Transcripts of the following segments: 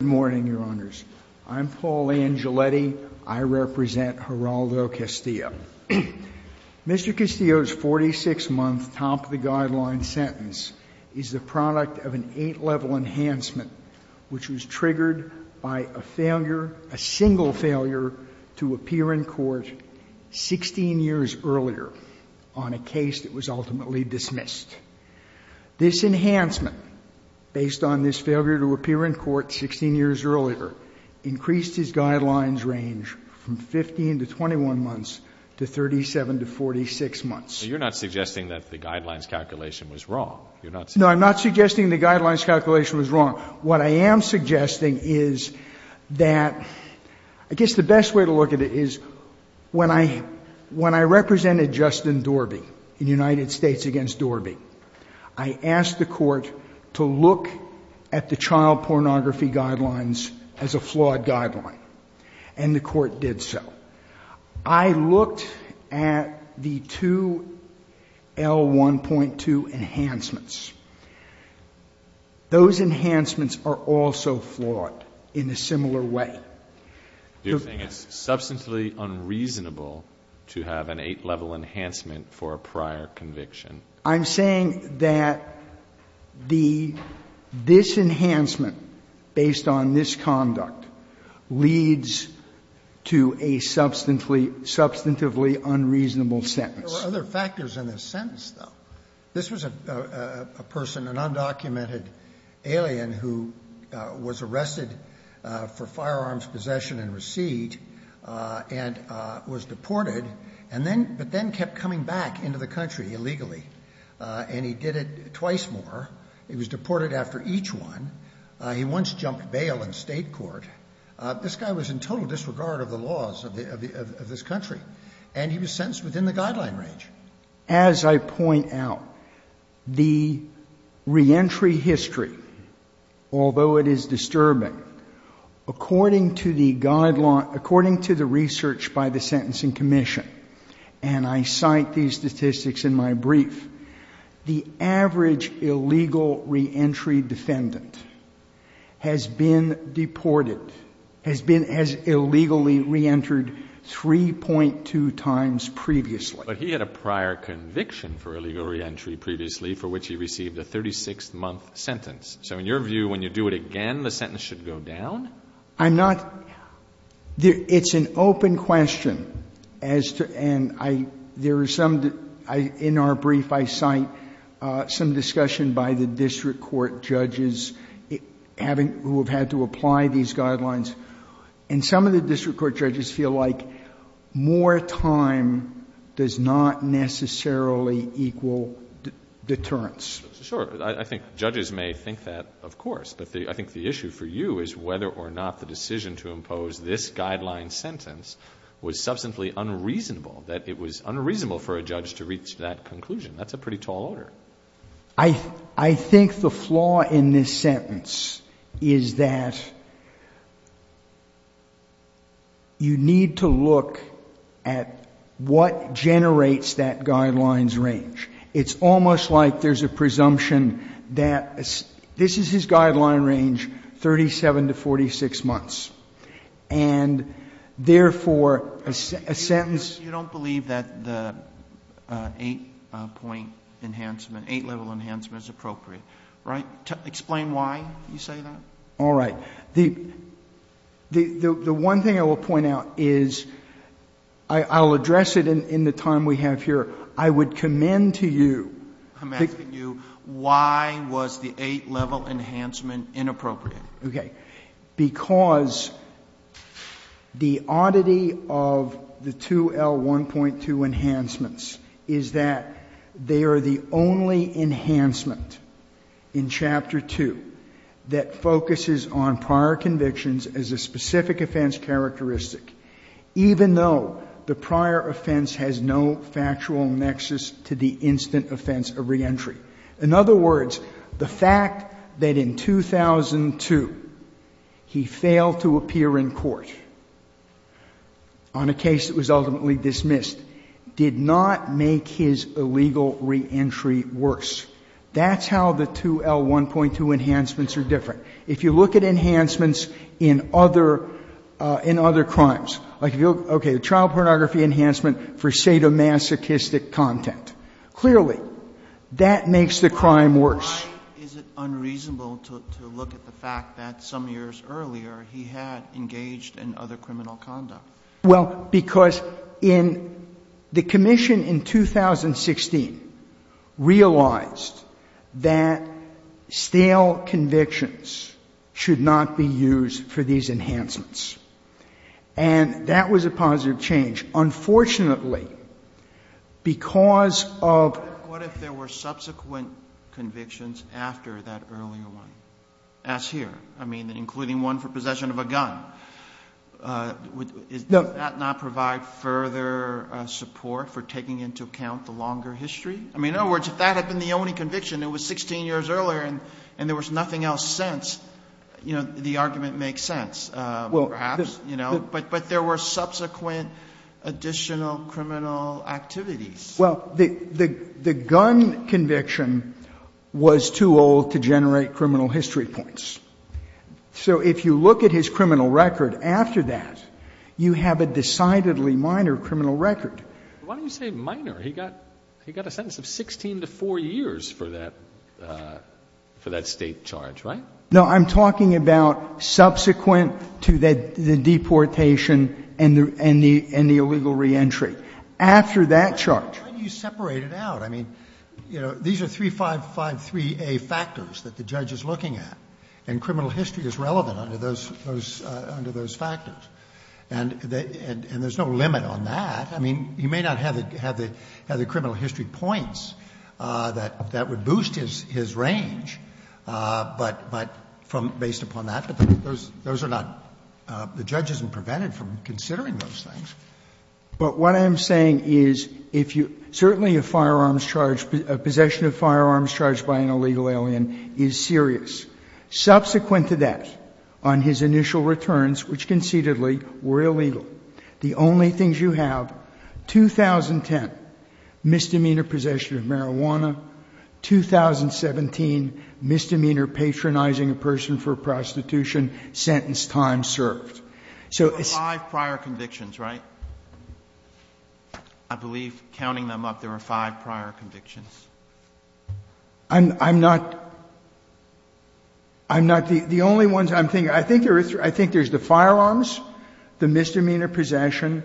Good morning, Your Honors. I'm Paul Angioletti. I represent Geraldo Castillo. Mr. Castillo's 46-month top-of-the-guideline sentence is the product of an 8-level enhancement which was triggered by a failure, a single failure, to appear in court 16 years earlier on a case that was ultimately dismissed. This enhancement, based on this failure to appear in court 16 years earlier, increased his guidelines range from 15 to 21 months to 37 to 46 months. You're not suggesting that the guidelines calculation was wrong. No, I'm not suggesting the guidelines calculation was wrong. What I am suggesting is that I guess the best way to look at it is when I represented Justin Dorby in United States v. Dorby, I asked the court to look at the child pornography guidelines as a flawed guideline, and the court did so. I looked at the two L1.2 enhancements. Those enhancements are also flawed in a similar way. It's substantially unreasonable to have an 8-level enhancement for a prior conviction. I'm saying that the disenhancement based on this conduct leads to a substantively unreasonable sentence. There were other factors in this sentence, though. This was a person, an undocumented alien who was arrested for firearms possession and receipt and was deported, but then kept coming back into the country illegally, and he did it twice more. He was deported after each one. He once jumped bail in State court. This guy was in total disregard of the laws of this country, and he was sentenced within the guideline range. As I point out, the reentry history, although it is disturbing, according to the research by the Sentencing Commission, and I cite these statistics in my brief, the average illegal reentry defendant has been deported, has been illegally reentered 3.2 times previously. But he had a prior conviction for illegal reentry previously, for which he received a 36-month sentence. So in your view, when you do it again, the sentence should go down? I'm not – it's an open question as to – and I – there are some – in our brief I cite some discussion by the district court judges having – who have had to apply these guidelines. And some of the district court judges feel like more time does not necessarily equal deterrence. Sure. I think judges may think that, of course. But I think the issue for you is whether or not the decision to impose this guideline sentence was substantially unreasonable, that it was unreasonable for a judge to reach that conclusion. That's a pretty tall order. I think the flaw in this sentence is that you need to look at what generates that guidelines range. It's almost like there's a presumption that – this is his guideline range, 37 to 46 months. And therefore, a sentence – eight-level enhancement is appropriate, right? Explain why you say that. All right. The one thing I will point out is – I'll address it in the time we have here. I would commend to you – I'm asking you why was the eight-level enhancement inappropriate? Okay. Because the oddity of the 2L1.2 enhancements is that they are the only enhancement in Chapter 2 that focuses on prior convictions as a specific offense characteristic even though the prior offense has no factual nexus to the instant offense of reentry. In other words, the fact that in 2002 he failed to appear in court on a case that was ultimately dismissed did not make his illegal reentry worse. That's how the 2L1.2 enhancements are different. If you look at enhancements in other – in other crimes, like if you look – okay, the child pornography enhancement for sadomasochistic content. Clearly, that makes the crime worse. Why is it unreasonable to look at the fact that some years earlier he had engaged in other criminal conduct? Well, because in – the Commission in 2016 realized that stale convictions should not be used for these enhancements. And that was a positive change. Unfortunately, because of – What if there were subsequent convictions after that earlier one, as here? I mean, including one for possession of a gun. Does that not provide further support for taking into account the longer history? I mean, in other words, if that had been the only conviction, it was 16 years earlier and there was nothing else since, you know, the argument makes sense, perhaps. But there were subsequent additional criminal activities. Well, the gun conviction was too old to generate criminal history points. So if you look at his criminal record after that, you have a decidedly minor criminal record. Why do you say minor? He got a sentence of 16 to 4 years for that State charge, right? No, I'm talking about subsequent to the deportation and the illegal reentry. After that charge. Why do you separate it out? I mean, you know, these are 3553A factors that the judge is looking at, and criminal history is relevant under those factors. And there's no limit on that. I mean, he may not have the criminal history points that would boost his range, but from based upon that. But those are not the judge isn't prevented from considering those things. But what I'm saying is if you certainly a firearms charge, a possession of firearms charged by an illegal alien is serious. Subsequent to that, on his initial returns, which concededly were illegal, the only things you have, 2010, misdemeanor possession of marijuana, 2017, misdemeanor patronizing a person for prostitution, sentence time served. So it's. Five prior convictions, right? I believe, counting them up, there were five prior convictions. I'm not the only ones I'm thinking. I think there's the firearms, the misdemeanor possession,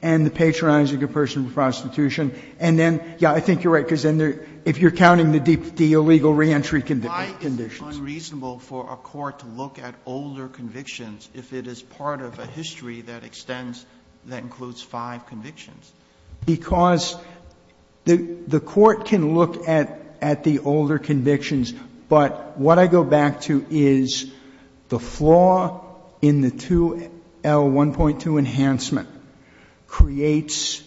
and the patronizing a person for prostitution. And then, yeah, I think you're right. Because if you're counting the illegal reentry convictions. Why is it unreasonable for a court to look at older convictions if it is part of a history that extends, that includes five convictions? Because the court can look at the older convictions, but what I go back to is the flaw in the 2L1.2 enhancement creates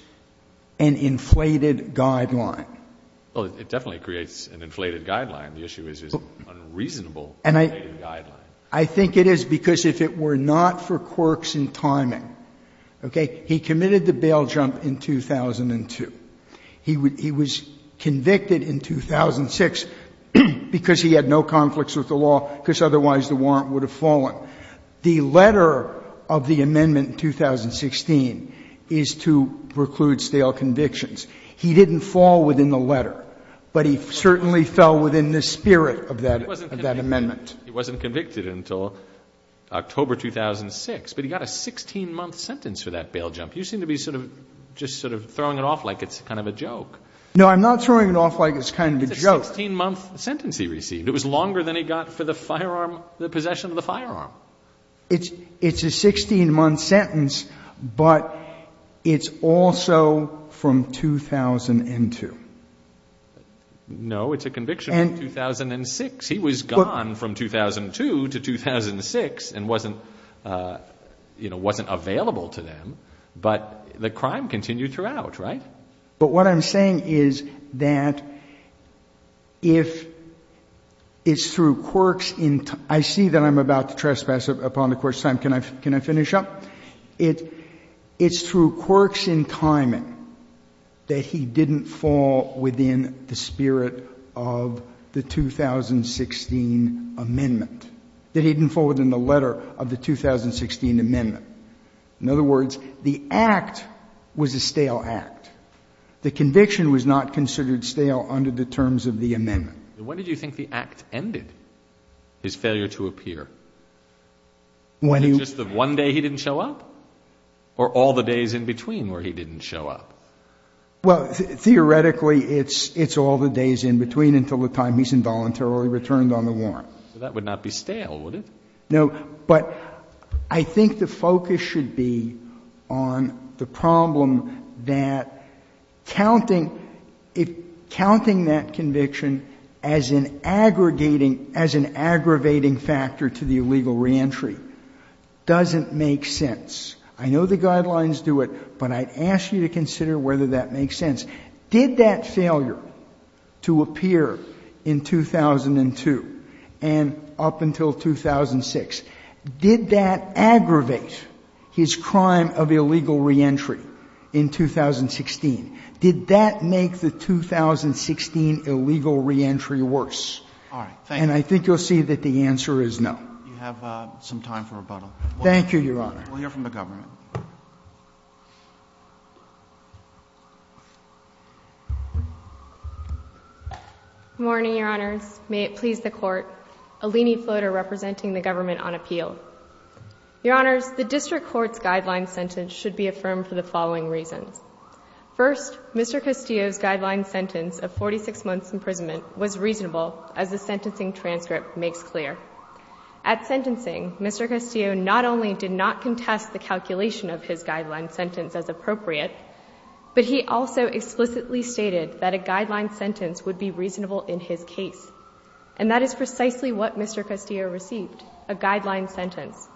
an inflated guideline. Well, it definitely creates an inflated guideline. The issue is unreasonable inflated guideline. And I think it is because if it were not for quirks in timing, okay? He committed the bail jump in 2002. He was convicted in 2006 because he had no conflicts with the law because otherwise the warrant would have fallen. The letter of the amendment in 2016 is to preclude stale convictions. He didn't fall within the letter, but he certainly fell within the spirit of that amendment. He wasn't convicted until October 2006, but he got a 16-month sentence for that bail jump. You seem to be sort of just sort of throwing it off like it's kind of a joke. No, I'm not throwing it off like it's kind of a joke. It's a 16-month sentence he received. It was longer than he got for the possession of the firearm. It's a 16-month sentence, but it's also from 2002. No, it's a conviction from 2006. He was gone from 2002 to 2006 and wasn't available to them, but the crime continued throughout, right? But what I'm saying is that if it's through quirks in timing, I see that I'm about to trespass upon the Court's time. Can I finish up? It's through quirks in timing that he didn't fall within the spirit of the 2016 amendment, that he didn't fall within the letter of the 2016 amendment. In other words, the act was a stale act. The conviction was not considered stale under the terms of the amendment. When did you think the act ended, his failure to appear? Was it just the one day he didn't show up or all the days in between where he didn't show up? Well, theoretically, it's all the days in between until the time he's involuntarily returned on the warrant. That would not be stale, would it? No, but I think the focus should be on the problem that counting that conviction as an aggregating factor to the illegal reentry doesn't make sense. I know the guidelines do it, but I'd ask you to consider whether that makes sense. Did that failure to appear in 2002 and up until 2006, did that aggravate his crime of illegal reentry in 2016? Did that make the 2016 illegal reentry worse? All right. Thank you. And I think you'll see that the answer is no. You have some time for rebuttal. Thank you, Your Honor. We'll hear from the government. Good morning, Your Honors. May it please the Court. Eleni Floater representing the government on appeal. Your Honors, the district court's guideline sentence should be affirmed for the following reasons. First, Mr. Castillo's guideline sentence of 46 months' imprisonment was reasonable, as the sentencing transcript makes clear. At sentencing, Mr. Castillo not only did not contest the calculation of his guideline sentence as appropriate, but he also explicitly stated that a guideline sentence would be reasonable in his case. And that is precisely what Mr. Castillo received, a guideline sentence.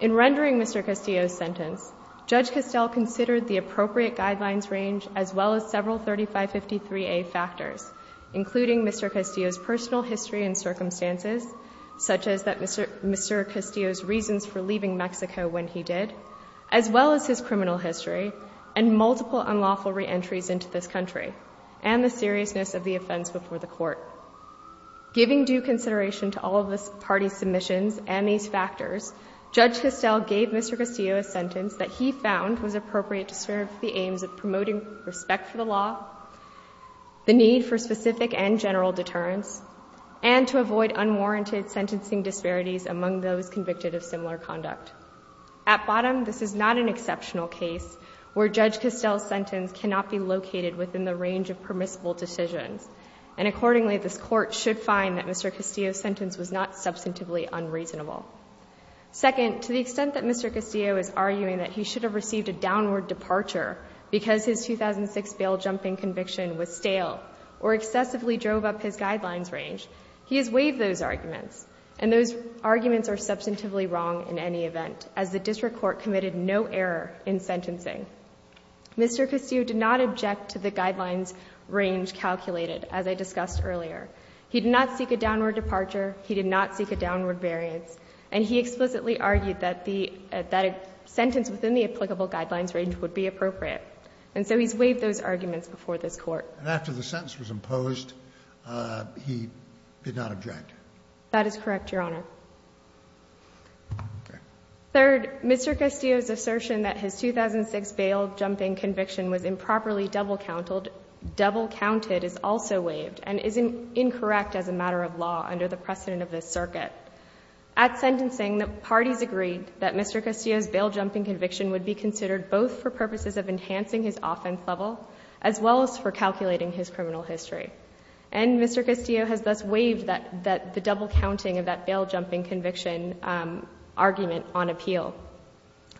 In rendering Mr. Castillo's sentence, Judge Castell considered the appropriate guidelines range as well as several 3553A factors, including Mr. Castillo's personal history and circumstances, such as Mr. Castillo's reasons for leaving Mexico when he did, as well as his criminal history and multiple unlawful reentries into this country, and the seriousness of the offense before the court. Giving due consideration to all of the party's submissions and these factors, Judge Castell gave Mr. Castillo a sentence that he found was appropriate to serve the aims of promoting respect for the law, the need for specific and general deterrence, and to avoid unwarranted sentencing disparities among those convicted of similar conduct. At bottom, this is not an exceptional case where Judge Castell's sentence cannot be located within the range of permissible decisions. And accordingly, this Court should find that Mr. Castillo's sentence was not substantively unreasonable. Second, to the extent that Mr. Castillo is arguing that he should have received a downward departure because his 2006 bail-jumping conviction was stale or excessively drove up his guidelines range, he has waived those arguments. And those arguments are substantively wrong in any event, as the district court committed no error in sentencing. Mr. Castillo did not object to the guidelines range calculated, as I discussed earlier. He did not seek a downward departure. He did not seek a downward variance. And he explicitly argued that a sentence within the applicable guidelines range would be appropriate. And so he's waived those arguments before this Court. And after the sentence was imposed, he did not object? That is correct, Your Honor. Okay. Third, Mr. Castillo's assertion that his 2006 bail-jumping conviction was improperly double-counted is also waived and is incorrect as a matter of law under the precedent of this circuit. At sentencing, the parties agreed that Mr. Castillo's bail-jumping conviction would be considered both for purposes of enhancing his offense level as well as for calculating his criminal history. And Mr. Castillo has thus waived the double-counting of that bail-jumping conviction argument on appeal.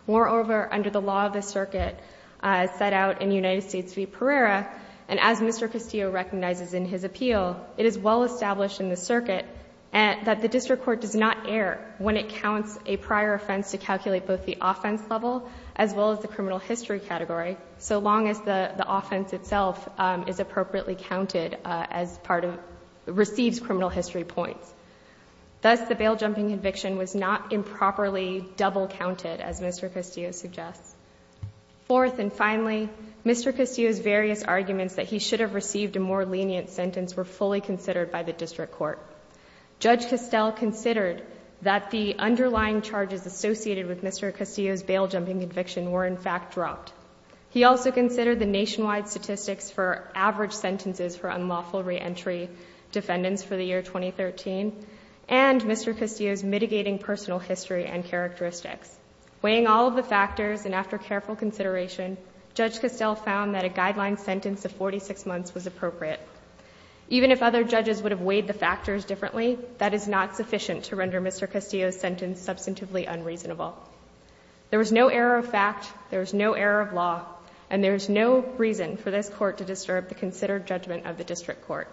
Moreover, under the law of the circuit set out in United States v. Pereira, and as Mr. Castillo recognizes in his appeal, it is well-established in the circuit that the district court does not err when it counts a prior offense to calculate both the offense level as well as the criminal history category, so long as the offense itself is appropriately counted as part of, receives criminal history points. Thus, the bail-jumping conviction was not improperly double-counted, as Mr. Castillo suggests. Fourth and finally, Mr. Castillo's various arguments that he should have received a more lenient sentence were fully considered by the district court. Judge Castell considered that the underlying charges associated with Mr. Castillo's bail-jumping conviction were in fact dropped. He also considered the nationwide statistics for average sentences for unlawful reentry defendants for the year 2013 and Mr. Castillo's mitigating personal history and characteristics. Weighing all of the factors and after careful consideration, Judge Castell found that a guideline sentence of 46 months was appropriate. Even if other judges would have weighed the factors differently, that is not sufficient to render Mr. Castillo's sentence substantively unreasonable. There was no error of fact, there was no error of law, and there is no reason for this court to disturb the considered judgment of the district court.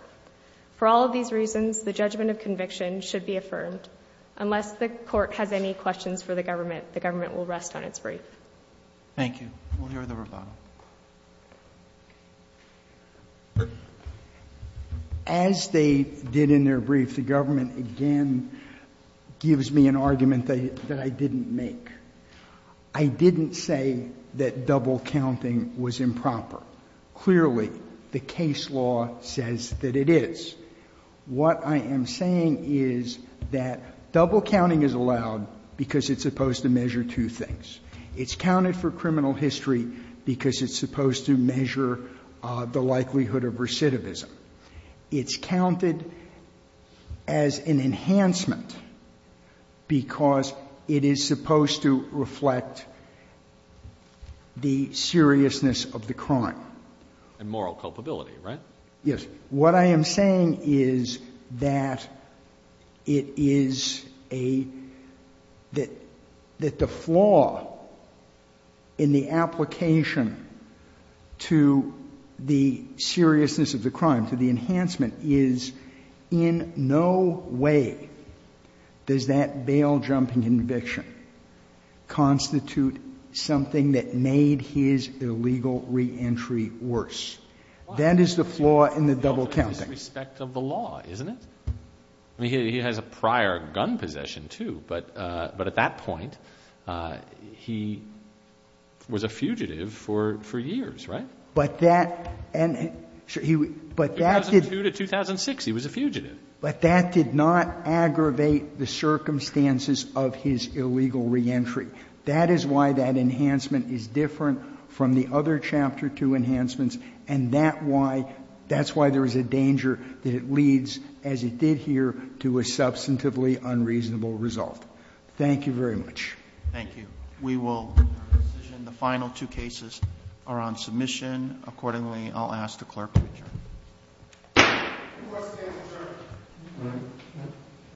For all of these reasons, the judgment of conviction should be affirmed. Unless the court has any questions for the government, the government will rest on its brief. Thank you. We'll hear the rebuttal. As they did in their brief, the government again gives me an argument that I didn't make. I didn't say that double counting was improper. Clearly, the case law says that it is. What I am saying is that double counting is allowed because it's supposed to measure two things. It's counted for criminal history because it's supposed to measure the likelihood of recidivism. It's counted as an enhancement because it is supposed to reflect the seriousness of the crime. And moral culpability, right? Yes. What I am saying is that it is a — that the flaw in the application to the seriousness of the crime, to the enhancement, is in no way does that bail-jumping conviction constitute something that made his illegal reentry worse. Why? That is the flaw in the double counting. It's in respect of the law, isn't it? I mean, he has a prior gun possession, too. But at that point, he was a fugitive for years, right? But that — 2002 to 2006, he was a fugitive. But that did not aggravate the circumstances of his illegal reentry. That is why that enhancement is different from the other Chapter 2 enhancements and that's why there is a danger that it leads, as it did here, to a substantively unreasonable result. Thank you very much. Thank you. We will conclude our decision. The final two cases are on submission. Accordingly, I'll ask the clerk to adjourn. The court stands adjourned.